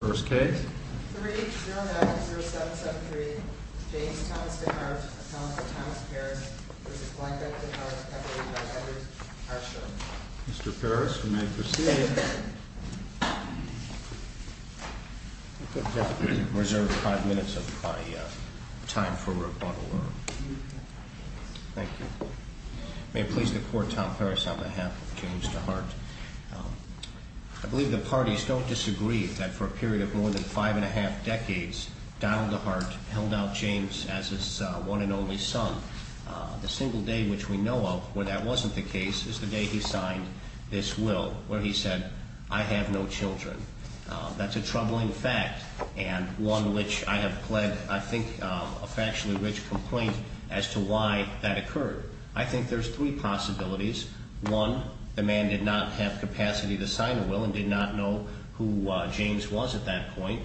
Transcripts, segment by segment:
3-0-9-0-7-7-3 James Thomas DeHart v. Thomas Thomas Perris v. Blanca DeHart Mr. Perris, you may proceed. I reserve five minutes of my time for rebuttal. Thank you. May it please the Court, Tom Perris on behalf of James DeHart. I believe the parties don't disagree that for a period of more than five and a half decades, Donald DeHart held out James as his one and only son. The single day which we know of where that wasn't the case is the day he signed this will, where he said, I have no children. That's a troubling fact and one which I have pled, I think, a factually rich complaint as to why that occurred. I think there's three possibilities. One, the man did not have capacity to sign the will and did not know who James was at that point.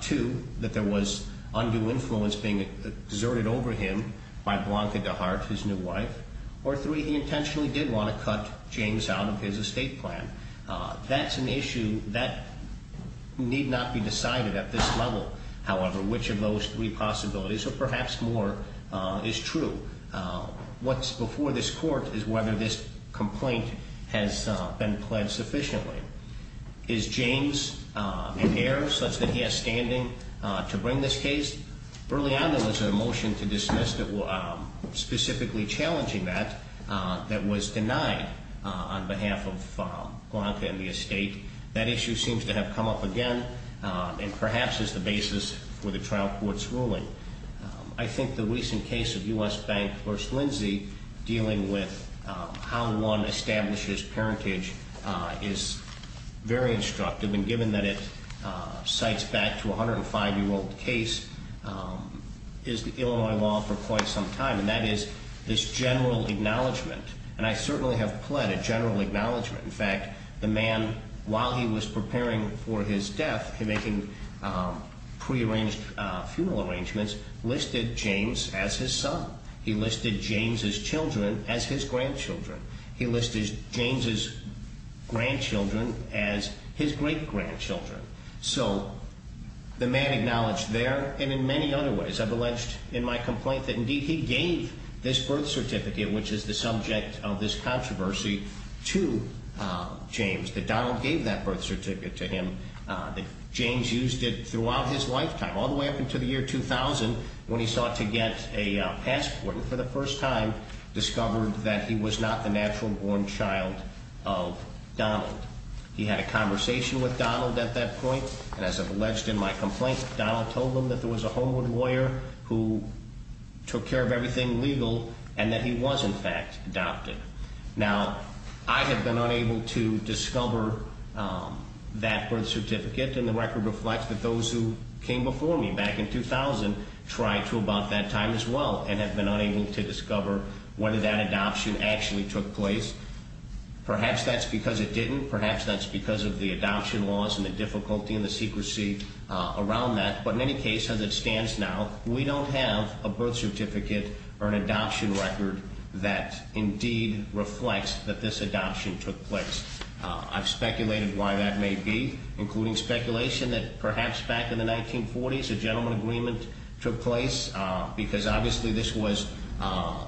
Two, that there was undue influence being exerted over him by Blanca DeHart, his new wife. Or three, he intentionally did want to cut James out of his estate plan. That's an issue that need not be decided at this level, however, which of those three possibilities, or perhaps more, is true. What's before this Court is whether this complaint has been pled sufficiently. Is James an heir such that he has standing to bring this case? Early on there was a motion to dismiss specifically challenging that, that was denied on behalf of Blanca and the estate. That issue seems to have come up again and perhaps is the basis for the trial court's ruling. I think the recent case of U.S. Bank v. Lindsay dealing with how one establishes parentage is very instructive. And given that it cites back to a 105-year-old case, is the Illinois law for quite some time. And that is this general acknowledgement, and I certainly have pled a general acknowledgement. In fact, the man, while he was preparing for his death, making prearranged funeral arrangements, listed James as his son. He listed James' children as his grandchildren. He listed James' grandchildren as his great-grandchildren. So the man acknowledged there, and in many other ways. I've alleged in my complaint that indeed he gave this birth certificate, which is the subject of this controversy, to James. That Donald gave that birth certificate to him. That James used it throughout his lifetime, all the way up until the year 2000, when he sought to get a passport. And for the first time discovered that he was not the natural-born child of Donald. He had a conversation with Donald at that point, and as I've alleged in my complaint, Donald told him that there was a homeward lawyer who took care of everything legal, and that he was, in fact, adopted. Now, I have been unable to discover that birth certificate, and the record reflects that those who came before me back in 2000 tried to about that time as well, and have been unable to discover whether that adoption actually took place. Perhaps that's because it didn't. Perhaps that's because of the adoption laws and the difficulty and the secrecy around that. But in any case, as it stands now, we don't have a birth certificate or an adoption record that indeed reflects that this adoption took place. I've speculated why that may be, including speculation that perhaps back in the 1940s a gentleman agreement took place. Because obviously this was a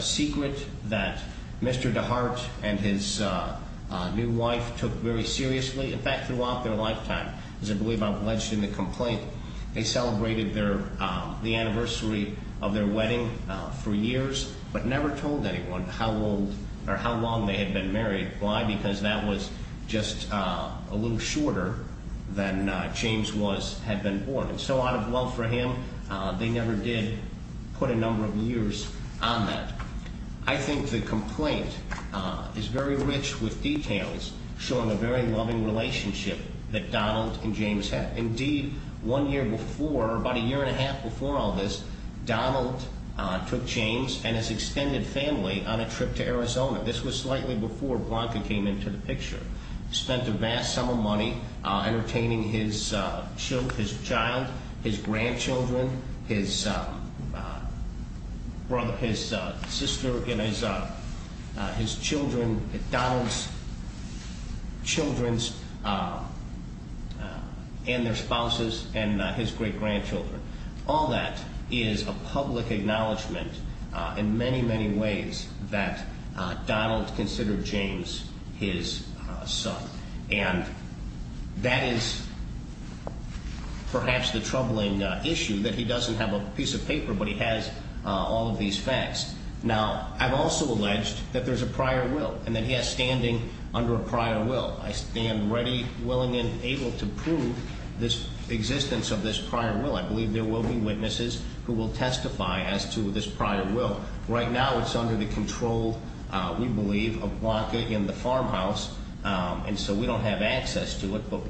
secret that Mr. DeHart and his new wife took very seriously. In fact, throughout their lifetime, as I believe I've alleged in the complaint, they celebrated the anniversary of their wedding for years, but never told anyone how long they had been married. Why? Because that was just a little shorter than James had been born. And so out of love for him, they never did put a number of years on that. I think the complaint is very rich with details showing a very loving relationship that Donald and James had. Indeed, one year before, about a year and a half before all this, Donald took James and his extended family on a trip to Arizona. This was slightly before Blanca came into the picture. Spent a vast sum of money entertaining his child, his grandchildren, his brother, his sister, and his children, Donald's children and their spouses, and his great-grandchildren. All that is a public acknowledgment in many, many ways that Donald considered James his son. And that is perhaps the troubling issue, that he doesn't have a piece of paper, but he has all of these facts. Now, I've also alleged that there's a prior will, and that he has standing under a prior will. I stand ready, willing, and able to prove this existence of this prior will. I believe there will be witnesses who will testify as to this prior will. Right now, it's under the control, we believe, of Blanca in the farmhouse, and so we don't have access to it. But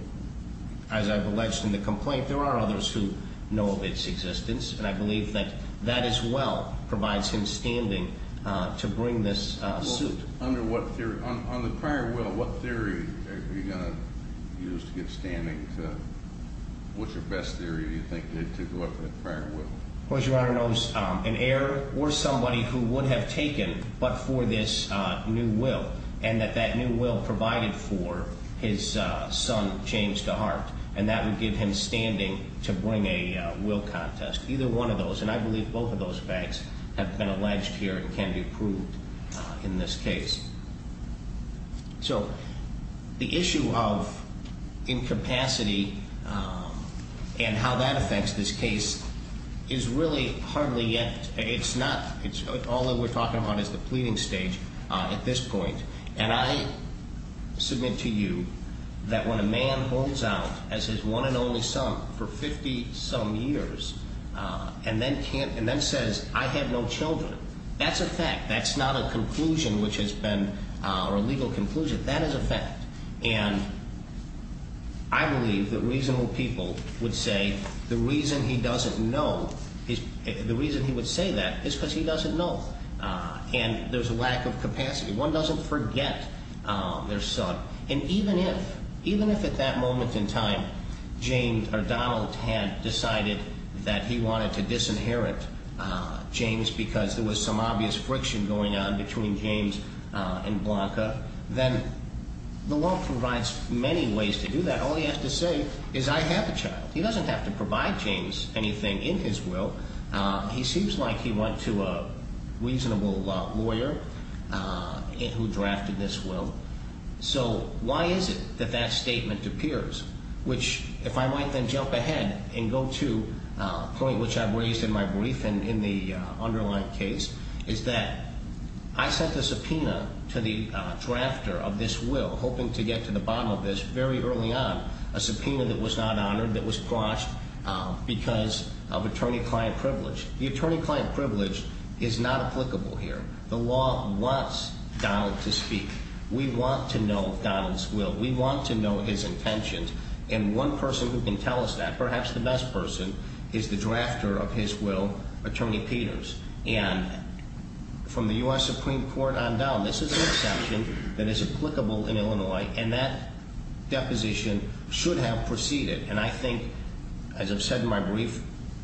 as I've alleged in the complaint, there are others who know of its existence, and I believe that that as well provides him standing to bring this suit. On the prior will, what theory are you going to use to get standing? What's your best theory, do you think, to go up with the prior will? Well, as Your Honor knows, an heir or somebody who would have taken but for this new will, and that that new will provided for his son, James, to heart, and that would give him standing to bring a will contest. Either one of those, and I believe both of those facts have been alleged here and can be proved in this case. So, the issue of incapacity and how that affects this case is really hardly yet, it's not, all that we're talking about is the pleading stage at this point. And I submit to you that when a man holds out as his one and only son for 50-some years and then says, I have no children, that's a fact, that's not a conclusion which has been, or a legal conclusion, that is a fact. And I believe that reasonable people would say the reason he doesn't know, the reason he would say that is because he doesn't know. And there's a lack of capacity. One doesn't forget their son. And even if, even if at that moment in time, James or Donald had decided that he wanted to disinherit James because there was some obvious friction going on between James and Blanca, then the law provides many ways to do that. All he has to say is, I have a child. He doesn't have to provide James anything in his will. He seems like he went to a reasonable lawyer who drafted this will. So why is it that that statement appears? Which, if I might then jump ahead and go to a point which I've raised in my brief and in the underlying case, is that I sent a subpoena to the drafter of this will hoping to get to the bottom of this very early on, a subpoena that was not honored, that was crossed because of attorney-client privilege. The attorney-client privilege is not applicable here. The law wants Donald to speak. We want to know Donald's will. We want to know his intentions. And one person who can tell us that, perhaps the best person, is the drafter of his will, Attorney Peters. And from the U.S. Supreme Court on down, this is an exception that is applicable in Illinois, and that deposition should have proceeded. And I think, as I've said in my brief,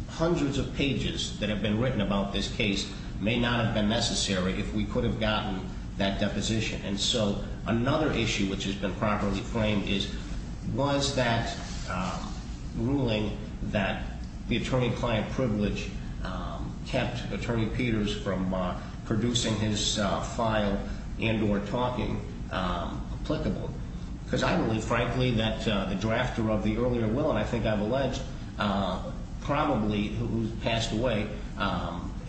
hundreds of pages that have been written about this case may not have been necessary if we could have gotten that deposition. And so another issue which has been properly framed is, was that ruling that the attorney-client privilege kept Attorney Peters from producing his file and or talking applicable? Because I believe, frankly, that the drafter of the earlier will, and I think I've alleged, probably who passed away,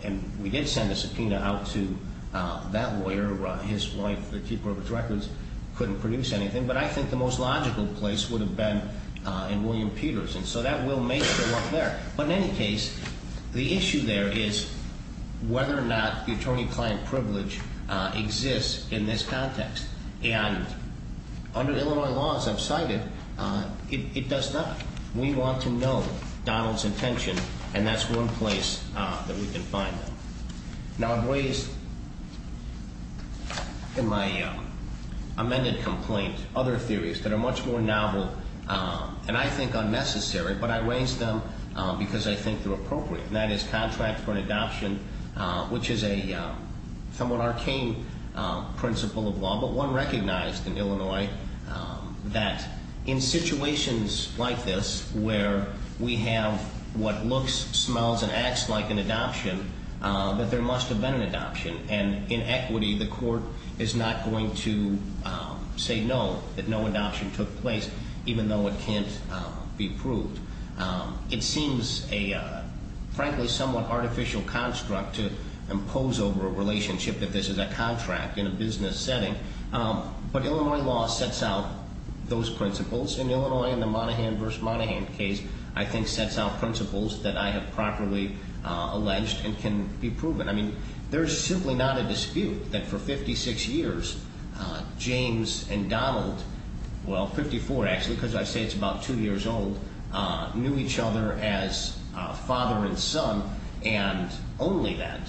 and we did send a subpoena out to that lawyer. His wife, the keeper of his records, couldn't produce anything. But I think the most logical place would have been in William Peters. And so that will may show up there. But in any case, the issue there is whether or not the attorney-client privilege exists in this context. And under Illinois laws, I've cited, it does not. We want to know Donald's intention, and that's one place that we can find that. Now, I've raised in my amended complaint other theories that are much more novel and I think unnecessary, but I raised them because I think they're appropriate. And that is contract for an adoption, which is a somewhat arcane principle of law, but one recognized in Illinois that in situations like this where we have what looks, smells, and acts like an adoption, that there must have been an adoption. And in equity, the court is not going to say no, that no adoption took place, even though it can't be proved. It seems a, frankly, somewhat artificial construct to impose over a relationship that this is a contract in a business setting. But Illinois law sets out those principles, and Illinois in the Monaghan v. Monaghan case, I think sets out principles that I have properly alleged and can be proven. I mean, there's simply not a dispute that for 56 years, James and Donald, well, 54 actually because I say it's about two years old, knew each other as father and son, and only that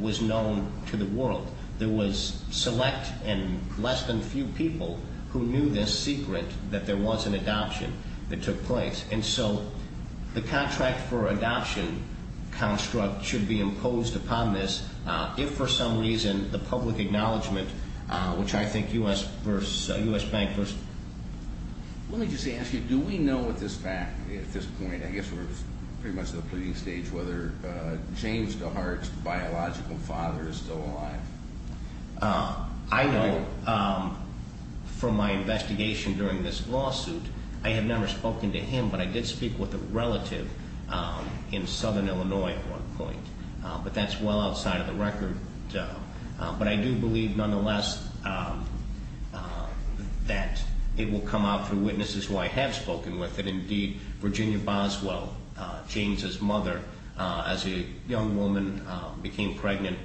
was known to the world. There was select and less than few people who knew this secret that there was an adoption that took place. And so the contract for adoption construct should be imposed upon this if for some reason the public acknowledgement, which I think U.S. versus U.S. bankers. Let me just ask you, do we know at this point, I guess we're pretty much at the pleading stage, whether James DeHart's biological father is still alive? I know from my investigation during this lawsuit, I have never spoken to him, but I did speak with a relative in southern Illinois at one point, but that's well outside of the record. But I do believe nonetheless that it will come out through witnesses who I have spoken with, and indeed Virginia Boswell, James's mother, as a young woman became pregnant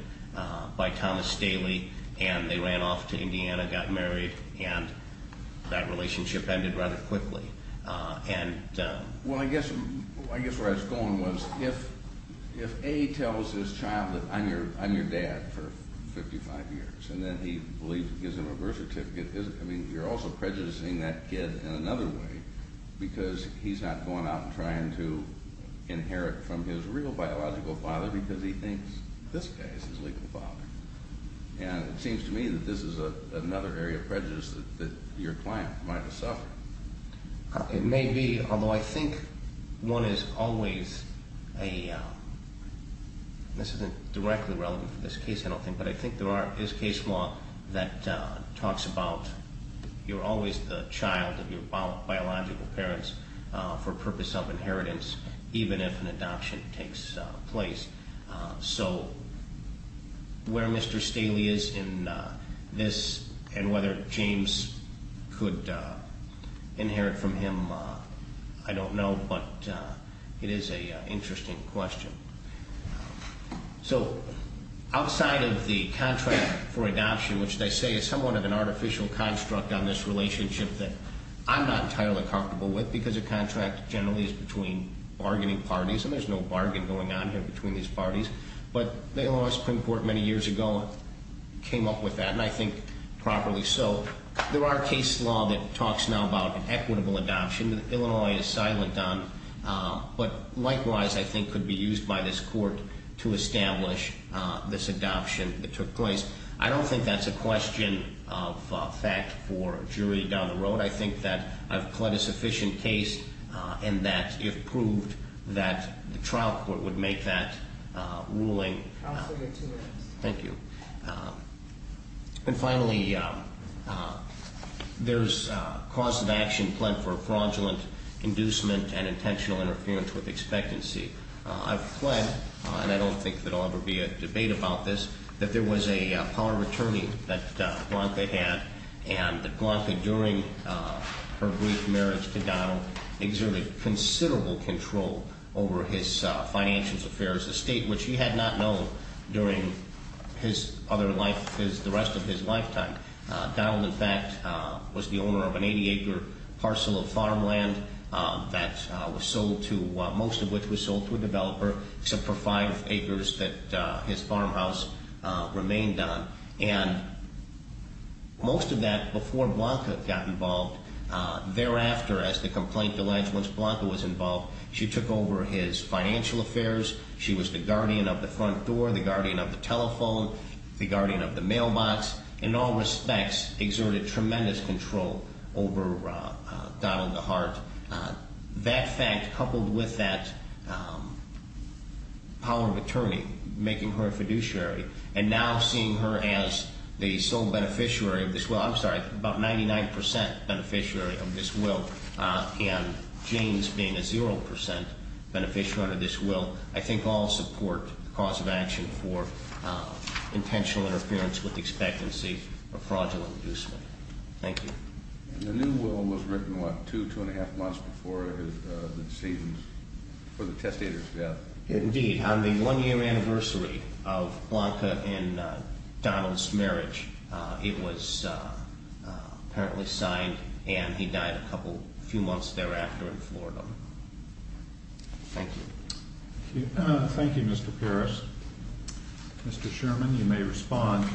by Thomas Staley, and they ran off to Indiana, got married, and that relationship ended rather quickly. Well, I guess where I was going was if A tells his child that I'm your dad for 55 years, and then he believes and gives him a birth certificate, you're also prejudicing that kid in another way, because he's not going out and trying to inherit from his real biological father because he thinks this guy is his legal father. And it seems to me that this is another area of prejudice that your client might have suffered. It may be, although I think one is always a, this isn't directly relevant for this case, I don't think, but I think there is case law that talks about you're always the child of your biological parents for purpose of inheritance, even if an adoption takes place. So where Mr. Staley is in this and whether James could inherit from him, I don't know, but it is an interesting question. So outside of the contract for adoption, which they say is somewhat of an artificial construct on this relationship that I'm not entirely comfortable with because a contract generally is between bargaining parties, and there's no bargain going on here between these parties. But the Illinois Supreme Court many years ago came up with that, and I think properly so. There are case law that talks now about an equitable adoption that Illinois is silent on, but likewise I think could be used by this court to establish this adoption that took place. I don't think that's a question of fact for a jury down the road. I think that I've pled a sufficient case and that if proved that the trial court would make that ruling. Counsel, you have two minutes. Thank you. And finally, there's cause of action pled for fraudulent inducement and intentional interference with expectancy. I've pled, and I don't think there will ever be a debate about this, that there was a power of attorney that Blanca had, and that Blanca during her brief marriage to Donald exerted considerable control over his financial affairs, a state which he had not known during his other life, the rest of his lifetime. Donald, in fact, was the owner of an 80-acre parcel of farmland that was sold to, most of which was sold to a developer to provide acres that his farmhouse remained on. And most of that before Blanca got involved, thereafter, as the complaint alleged, once Blanca was involved, she took over his financial affairs. She was the guardian of the front door, the guardian of the telephone, the guardian of the mailbox, in all respects exerted tremendous control over Donald DeHart. That fact coupled with that power of attorney making her a fiduciary and now seeing her as the sole beneficiary of this will, I'm sorry, about 99% beneficiary of this will, and James being a 0% beneficiary of this will, I think all support the cause of action for intentional interference with expectancy or fraudulent inducement. Thank you. And the new will was written, what, two, two-and-a-half months before the testator's death? Indeed. On the one-year anniversary of Blanca and Donald's marriage, it was apparently signed, and he died a few months thereafter in Florida. Thank you. Thank you, Mr. Pierce. Mr. Sherman, you may respond.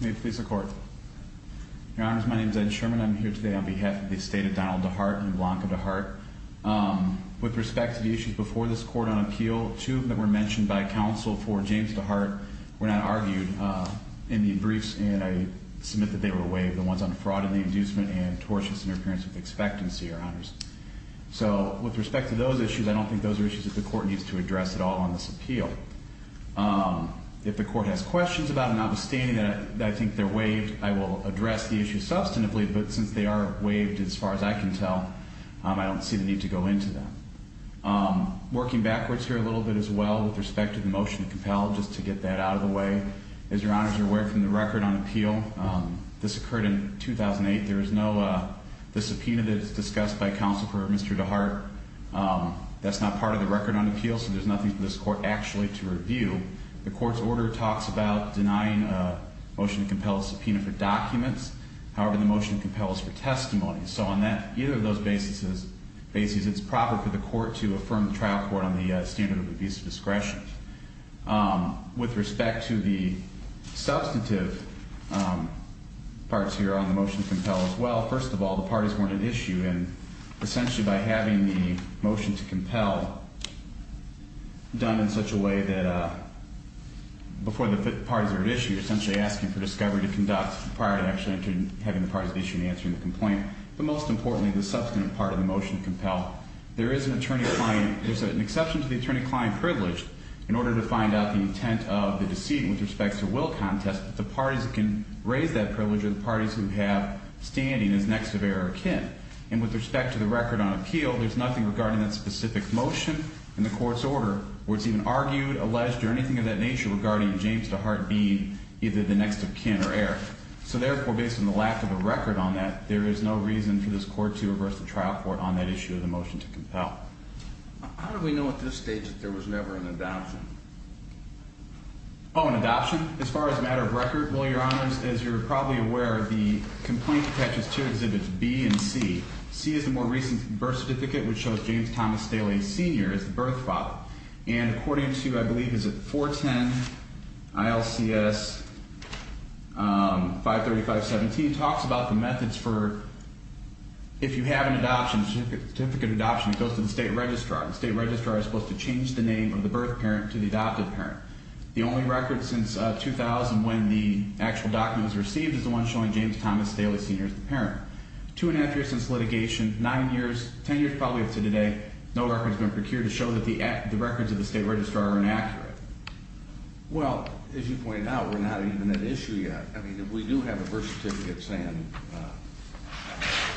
May it please the Court. Your Honors, my name is Ed Sherman. I'm here today on behalf of the estate of Donald DeHart and Blanca DeHart. With respect to the issues before this Court on appeal, two of them that were mentioned by counsel for James DeHart were not argued in the briefs, and I submit that they were waived, the ones on fraud and the inducement and tortious interference with expectancy, Your Honors. So with respect to those issues, I don't think those are issues that the Court needs to address at all on this appeal. If the Court has questions about them, notwithstanding that I think they're waived, I will address the issue substantively, but since they are waived, as far as I can tell, I don't see the need to go into them. Working backwards here a little bit as well with respect to the motion to compel, just to get that out of the way, as Your Honors are aware from the record on appeal, this occurred in 2008. There is no, the subpoena that is discussed by counsel for Mr. DeHart, that's not part of the record on appeal, so there's nothing for this Court actually to review. The Court's order talks about denying a motion to compel a subpoena for documents. However, the motion to compel is for testimony. So on either of those bases, it's proper for the Court to affirm the trial court on the standard of abuse of discretion. With respect to the substantive parts here on the motion to compel as well, first of all, the parties weren't an issue, and essentially by having the motion to compel done in such a way that before the parties are at issue, you're essentially asking for discovery to conduct prior to actually having the parties at issue and answering the complaint. But most importantly, the substantive part of the motion to compel, there is an attorney-client, there's an exception to the attorney-client privilege in order to find out the intent of the deceit with respect to will contest, but the parties that can raise that privilege are the parties who have standing as next of heir or kin. And with respect to the record on appeal, there's nothing regarding that specific motion in the Court's order where it's even argued, alleged, or anything of that nature regarding James DeHart being either the next of kin or heir. So therefore, based on the lack of a record on that, there is no reason for this Court to reverse the trial court on that issue of the motion to compel. How do we know at this stage that there was never an adoption? Oh, an adoption? As far as a matter of record, well, Your Honors, as you're probably aware, the complaint catches two exhibits, B and C. C is the more recent birth certificate, which shows James Thomas Staley Sr. as the birth father. And according to, I believe, is it 410 ILCS 53517, talks about the methods for if you have an adoption, a certificate of adoption, it goes to the state registrar. The state registrar is supposed to change the name of the birth parent to the adopted parent. The only record since 2000 when the actual document was received is the one showing James Thomas Staley Sr. as the parent. Two and a half years since litigation, nine years, ten years probably up to today, no record has been procured to show that the records of the state registrar are inaccurate. Well, as you point out, we're not even at issue yet. I mean, if we do have a birth certificate saying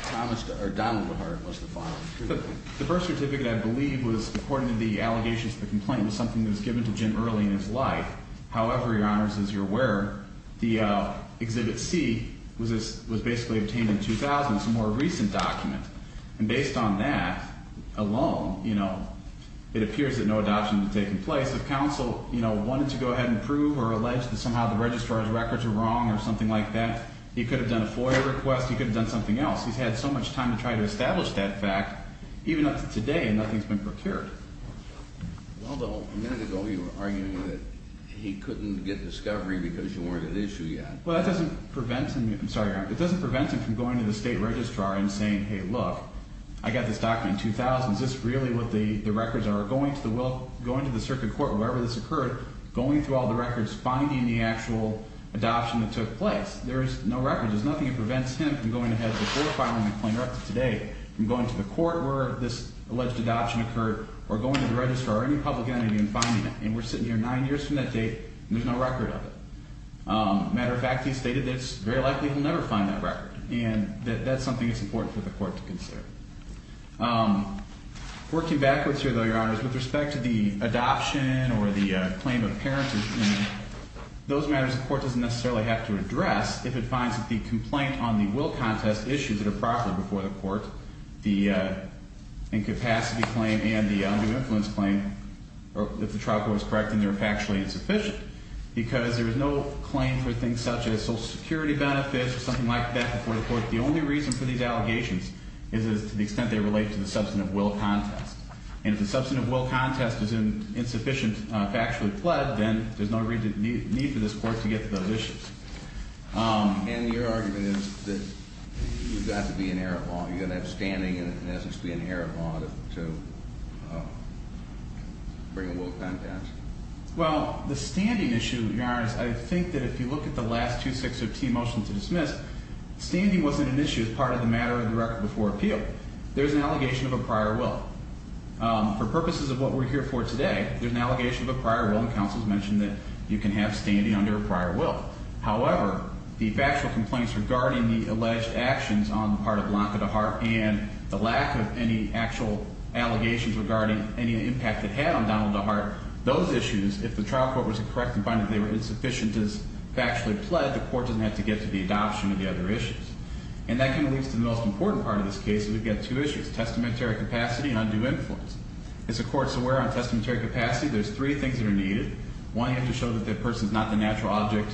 Thomas or Donald Lehart was the father. The birth certificate, I believe, was, according to the allegations of the complaint, was something that was given to Jim early in his life. However, Your Honors, as you're aware, the Exhibit C was basically obtained in 2000. It's a more recent document. And based on that alone, you know, it appears that no adoption had taken place. If counsel, you know, wanted to go ahead and prove or allege that somehow the registrar's records are wrong or something like that, he could have done a FOIA request. He could have done something else. He's had so much time to try to establish that fact, even up to today, and nothing's been procured. Although a minute ago you were arguing that he couldn't get discovery because you weren't at issue yet. Well, that doesn't prevent him. I'm sorry, Your Honor. It doesn't prevent him from going to the state registrar and saying, hey, look, I got this document in 2000. Is this really what the records are? Or going to the circuit court, wherever this occurred, going through all the records, finding the actual adoption that took place. There is no record. There's nothing that prevents him from going ahead to a FOIA filing and playing it up to today, from going to the court where this alleged adoption occurred, or going to the registrar or any public entity and finding it. And we're sitting here nine years from that date, and there's no record of it. Matter of fact, he's stated that it's very likely he'll never find that record, and that that's something that's important for the court to consider. Working backwards here, though, Your Honor, with respect to the adoption or the claim of parentage, those matters the court doesn't necessarily have to address if it finds that the complaint on the will contest issues that are properly before the court, the incapacity claim and the undue influence claim, if the trial court is correct and they're factually insufficient, because there is no claim for things such as Social Security benefits or something like that before the court. The only reason for these allegations is to the extent they relate to the substantive will contest. And if the substantive will contest is insufficient, factually pled, then there's no need for this court to get to those issues. And your argument is that you've got to be in error of law. You're going to have standing and, in essence, be in error of law to bring a will contest? Well, the standing issue, Your Honor, is I think that if you look at the last 260T motion to dismiss, standing wasn't an issue as part of the matter of the record before appeal. There's an allegation of a prior will. For purposes of what we're here for today, there's an allegation of a prior will, and counsel has mentioned that you can have standing under a prior will. However, the factual complaints regarding the alleged actions on the part of Blanca DeHart and the lack of any actual allegations regarding any impact it had on Donald DeHart, those issues, if the trial court was correct in finding that they were insufficient as factually pled, the court doesn't have to get to the adoption of the other issues. And that kind of leads to the most important part of this case, and we've got two issues, testamentary capacity and undue influence. As the court's aware on testamentary capacity, there's three things that are needed. One, you have to show that the person is not the natural object,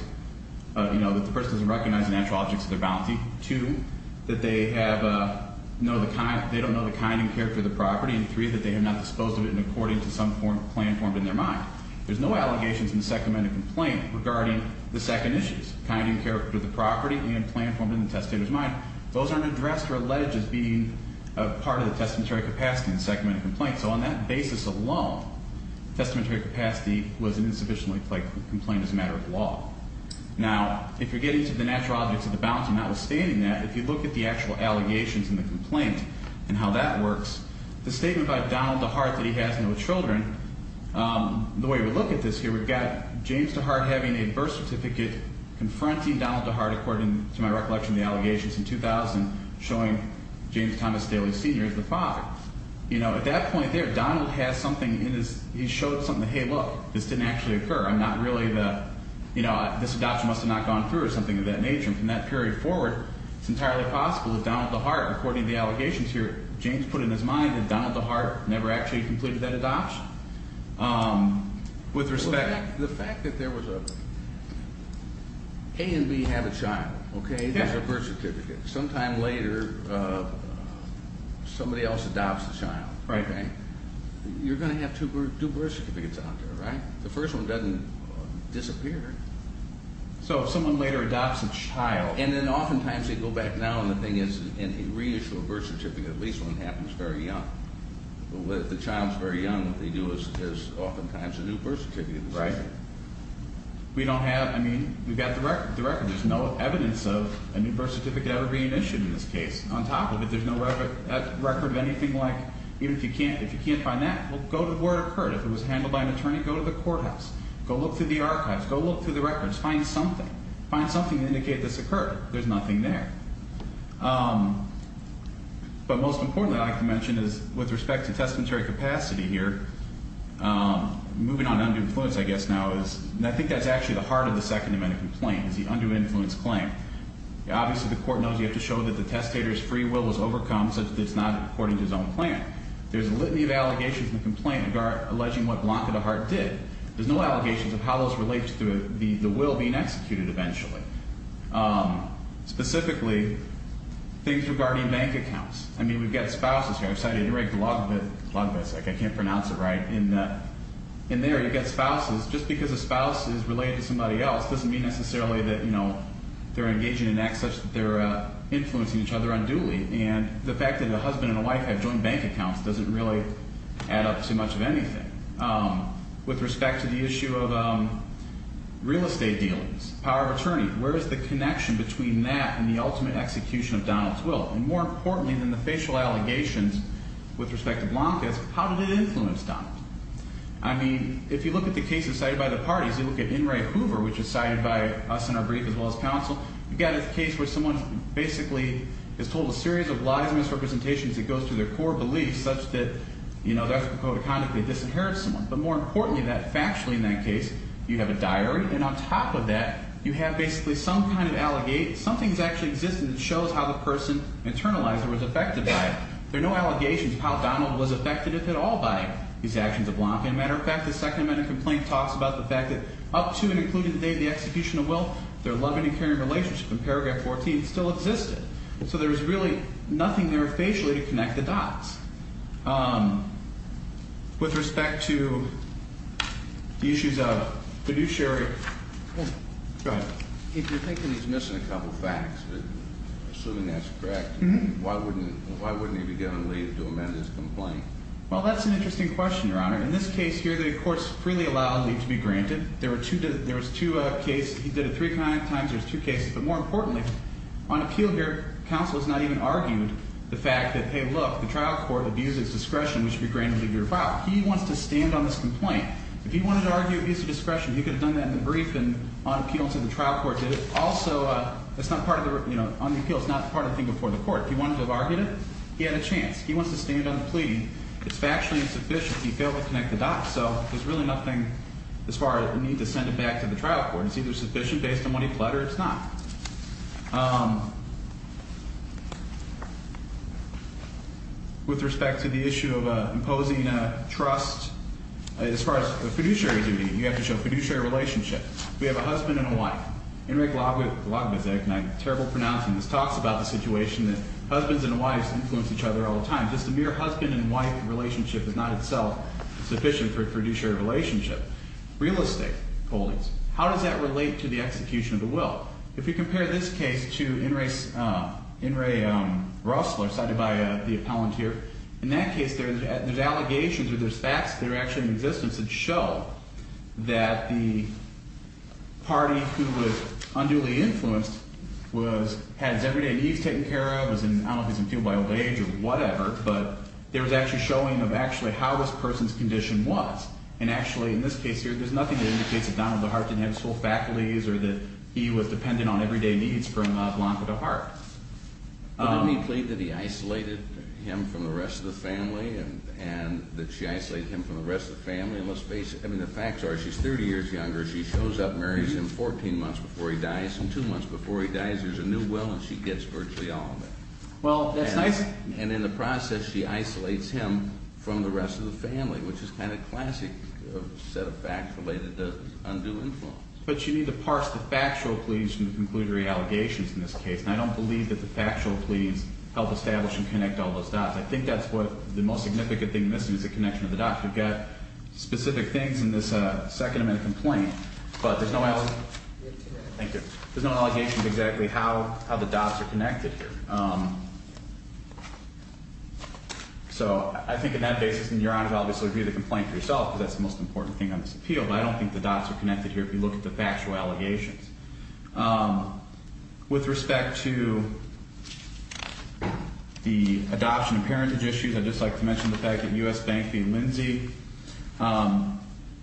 that the person doesn't recognize the natural objects of their bounty. Two, that they don't know the kind and character of the property. And three, that they are not disposed of it according to some plan formed in their mind. There's no allegations in the second amendment complaint regarding the second issues, kind and character of the property and plan formed in the testator's mind. Those aren't addressed or alleged as being part of the testamentary capacity in the second amendment complaint. So on that basis alone, testamentary capacity was an insufficiently pled complaint as a matter of law. Now, if you're getting to the natural objects of the bounty, notwithstanding that, if you look at the actual allegations in the complaint and how that works, the statement by Donald DeHart that he has no children, the way we look at this here, we've got James DeHart having a birth certificate confronting Donald DeHart, according to my recollection of the allegations in 2000, showing James Thomas Daly Sr. as the father. You know, at that point there, Donald has something in his, he showed something, hey, look, this didn't actually occur, I'm not really the, you know, this adoption must have not gone through or something of that nature. And from that period forward, it's entirely possible that Donald DeHart, according to the allegations here, James put in his mind that Donald DeHart never actually completed that adoption. With respect... The fact that there was a, A and B have a child, okay? There's a birth certificate. Sometime later, somebody else adopts a child, okay? You're going to have two birth certificates out there, right? The first one doesn't disappear. So if someone later adopts a child... And then oftentimes they go back now, and the thing is, in a reissue of a birth certificate, at least one happens very young. But if the child's very young, what they do is oftentimes a new birth certificate is issued. Right. We don't have, I mean, we've got the record. There's no evidence of a new birth certificate ever being issued in this case. On top of it, there's no record of anything like, even if you can't find that, well, go to where it occurred. If it was handled by an attorney, go to the courthouse. Go look through the archives. Go look through the records. Find something. There's nothing to indicate this occurred. There's nothing there. But most importantly, I'd like to mention is, with respect to testamentary capacity here, moving on to undue influence, I guess now is, and I think that's actually the heart of the Second Amendment complaint, is the undue influence claim. Obviously, the court knows you have to show that the testator's free will was overcome, such that it's not according to his own plan. There's a litany of allegations in the complaint alleging what Blanca DeHart did. There's no allegations of how those relate to the will being executed eventually. Specifically, things regarding bank accounts. I mean, we've got spouses here. I'm sorry, I didn't write the log of it. I can't pronounce it right. In there, you've got spouses. Just because a spouse is related to somebody else doesn't mean necessarily that, you know, they're engaging in acts such that they're influencing each other unduly. And the fact that a husband and a wife have joined bank accounts doesn't really add up to much of anything. With respect to the issue of real estate dealings, power of attorney, where is the connection between that and the ultimate execution of Donald's will? And more importantly than the facial allegations with respect to Blanca's, how did it influence Donald? I mean, if you look at the cases cited by the parties, you look at In re Hoover, which is cited by us in our brief as well as counsel, you've got a case where someone basically is told a series of lies and misrepresentations that goes to their core beliefs such that, you know, that's a code of conduct. They disinherit someone. But more importantly than that, factually in that case, you have a diary. And on top of that, you have basically some kind of allegate. Something's actually existed that shows how the person internalized or was affected by it. There are no allegations of how Donald was affected if at all by these actions of Blanca. As a matter of fact, the second amendment complaint talks about the fact that up to and including today the execution of will, their loving and caring relationship in paragraph 14 still existed. So there was really nothing there facially to connect the dots. With respect to the issues of fiduciary. Go ahead. If you're thinking he's missing a couple of facts, assuming that's correct, why wouldn't he be getting a leave to amend his complaint? Well, that's an interesting question, Your Honor. In this case here, the court's freely allowed leave to be granted. There was two cases. He did it three times. There's two cases. But more importantly, on appeal here, counsel has not even argued the fact that, hey, look, the trial court abuses discretion. We should be granted leave to file. He wants to stand on this complaint. If he wanted to argue abuse of discretion, he could have done that in the brief and on appeal to the trial court. Also, it's not part of the, you know, on the appeal, it's not part of the thing before the court. If he wanted to have argued it, he had a chance. He wants to stand on the plea. It's factually insufficient. He failed to connect the dots. So there's really nothing as far as the need to send it back to the trial court. It's either sufficient based on what he pled or it's not. With respect to the issue of imposing trust, as far as the fiduciary duty, you have to show fiduciary relationship. We have a husband and a wife. Enric Lagbizek, and I'm terrible at pronouncing this, talks about the situation that husbands and wives influence each other all the time. Just a mere husband and wife relationship is not itself sufficient for a fiduciary relationship. Real estate holdings. How does that relate to the execution of the will? If we compare this case to In re Russell, cited by the appellant here, in that case, there's allegations or there's facts that are actually in existence that show that the party who was unduly influenced had his everyday needs taken care of, was in, I don't know if he was in field by old age or whatever, but there was actually showing of actually how this person's condition was. And actually, in this case here, there's nothing that indicates that Donald DeHart didn't have full faculties or that he was dependent on everyday needs from Blanca DeHart. But didn't he plead that he isolated him from the rest of the family and that she isolated him from the rest of the family? And let's face it, I mean, the facts are she's 30 years younger. She shows up, marries him 14 months before he dies, and two months before he dies, there's a new will and she gets virtually all of it. Well, that's nice. And in the process, she isolates him from the rest of the family, which is kind of classic set of facts related to undue influence. But you need to parse the factual pleas from the conclusory allegations in this case. And I don't believe that the factual pleas help establish and connect all those dots. I think that's what the most significant thing missing is the connection of the dots. We've got specific things in this second amendment complaint, but there's no allegations. Thank you. There's no allegations exactly how the dots are connected here. So I think on that basis, then, Your Honor, I'll just leave the complaint to yourself because that's the most important thing on this appeal. But I don't think the dots are connected here if you look at the factual allegations. With respect to the adoption and parentage issues, I'd just like to mention the fact that U.S. Bank v. Lindsay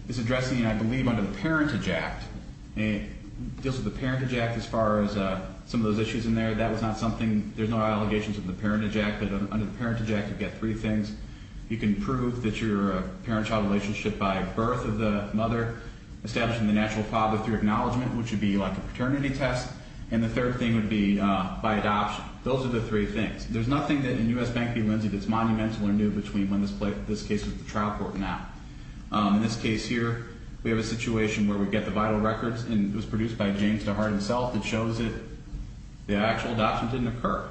is addressing, I believe, under the Parentage Act. It deals with the Parentage Act as far as some of those issues in there. That was not something – there's no allegations of the Parentage Act. But under the Parentage Act, you get three things. You can prove that you're a parent-child relationship by birth of the mother, establishing the natural father through acknowledgement, which would be like a paternity test. And the third thing would be by adoption. Those are the three things. There's nothing in U.S. Bank v. Lindsay that's monumental or new between when this case was at the trial court and now. In this case here, we have a situation where we get the vital records, and it was produced by James DeHart himself. It shows that the actual adoption didn't occur.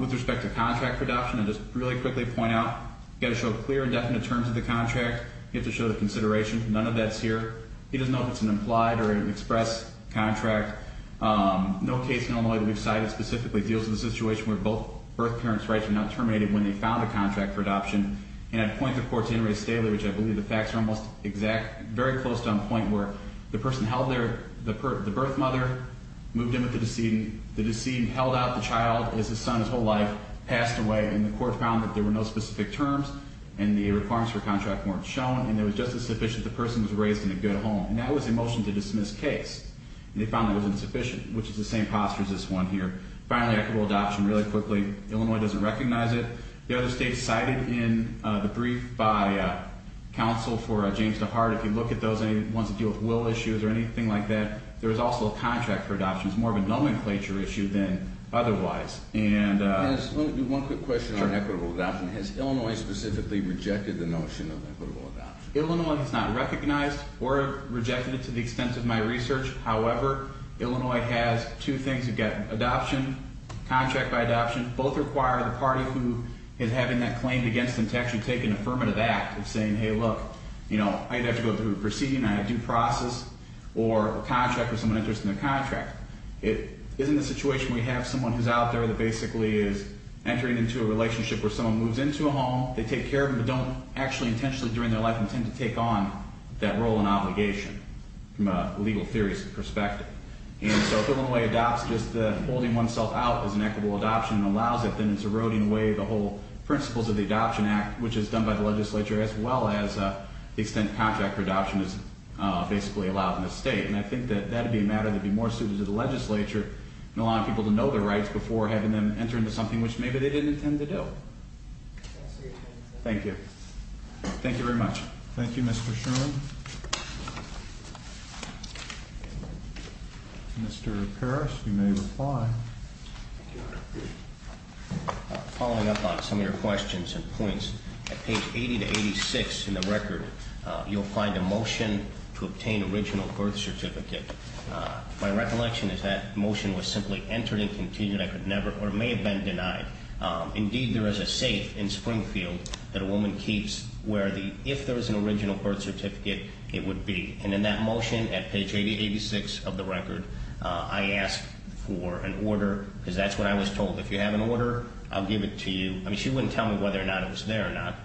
With respect to contract for adoption, I'll just really quickly point out, you've got to show clear and definite terms of the contract. You have to show the consideration. None of that's here. He doesn't know if it's an implied or an express contract. No case in Illinois that we've cited specifically deals with a situation where both birth parents' rights were not terminated when they found a contract for adoption. And I'd point the court to Inouye Staley, which I believe the facts are almost exact, very close to on point, where the person held the birth mother, moved in with the decedent. The decedent held out the child as his son his whole life, passed away, and the court found that there were no specific terms and the requirements for contract weren't shown, and it was just as sufficient the person was raised in a good home. And that was a motion to dismiss case. And they found that it was insufficient, which is the same posture as this one here. Finally, equitable adoption, really quickly, Illinois doesn't recognize it. The other states cited in the brief by counsel for James DeHart, if you look at those ones that deal with will issues or anything like that, there is also a contract for adoption. It's more of a nomenclature issue than otherwise. One quick question on equitable adoption. Has Illinois specifically rejected the notion of equitable adoption? Illinois has not recognized or rejected it to the extent of my research. However, Illinois has two things. You've got adoption, contract by adoption. Both require the party who is having that claim against them to actually take an affirmative act of saying, hey, look, you know, I'm going to have to go through a proceeding on a due process or a contract where someone enters into a contract. It isn't a situation where you have someone who's out there that basically is entering into a relationship where someone moves into a home, they take care of them, but don't actually intentionally during their life intend to take on that role and obligation from a legal theory's perspective. And so if Illinois adopts just holding oneself out as an equitable adoption and allows it, then it's eroding away the whole principles of the Adoption Act, which is done by the legislature as well as the extent contract for adoption is basically allowed in the state. And I think that that would be a matter that would be more suited to the legislature and allowing people to know their rights before having them enter into something which maybe they didn't intend to do. Thank you. Thank you very much. Thank you, Mr. Sherman. Mr. Parrish, you may reply. Following up on some of your questions and points, at page 80 to 86 in the record, you'll find a motion to obtain original birth certificate. My recollection is that motion was simply entered and continued. I could never or may have been denied. Indeed, there is a safe in Springfield that a woman keeps where the, if there was an original birth certificate, it would be. And in that motion at page 80 to 86 of the record, I asked for an order because that's what I was told. If you have an order, I'll give it to you. I mean, she wouldn't tell me whether or not it was there or not.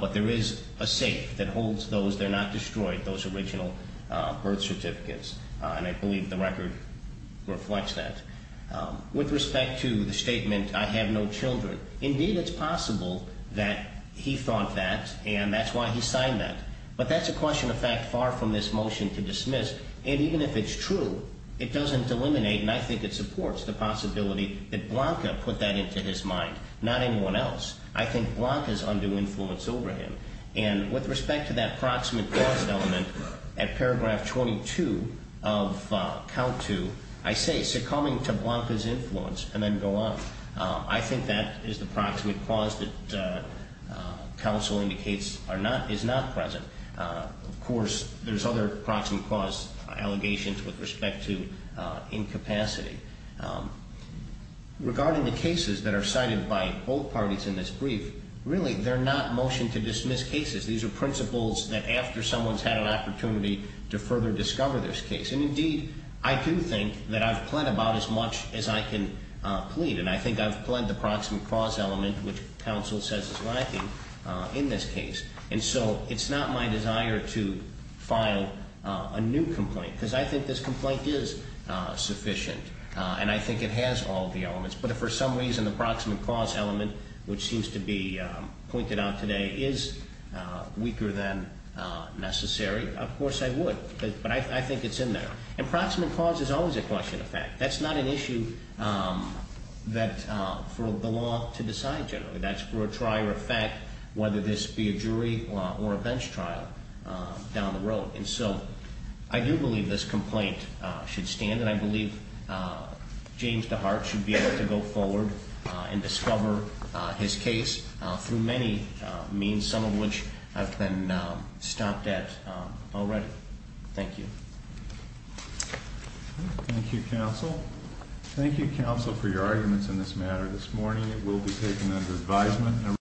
But there is a safe that holds those that are not destroyed, those original birth certificates. And I believe the record reflects that. With respect to the statement, I have no children, indeed, it's possible that he thought that and that's why he signed that. But that's a question of fact far from this motion to dismiss. And even if it's true, it doesn't eliminate and I think it supports the possibility that Blanca put that into his mind, not anyone else. I think Blanca is under influence over him. And with respect to that proximate cause element, at paragraph 22 of count two, I say succumbing to Blanca's influence and then go on. I think that is the proximate cause that counsel indicates is not present. Of course, there's other proximate cause allegations with respect to incapacity. Regarding the cases that are cited by both parties in this brief, really, they're not motion to dismiss cases. These are principles that after someone's had an opportunity to further discover this case. And indeed, I do think that I've pled about as much as I can plead. And I think I've pled the proximate cause element, which counsel says is lacking in this case. And so it's not my desire to file a new complaint because I think this complaint is sufficient. And I think it has all the elements. But if for some reason the proximate cause element, which seems to be pointed out today, is weaker than necessary, of course I would. But I think it's in there. And proximate cause is always a question of fact. That's not an issue for the law to decide generally. That's for a trier of fact, whether this be a jury or a bench trial down the road. And so I do believe this complaint should stand. And I believe James DeHart should be able to go forward and discover his case through many means, some of which I've been stopped at already. Thank you. Thank you, counsel. Thank you, counsel, for your arguments in this matter this morning. It will be taken under advisement.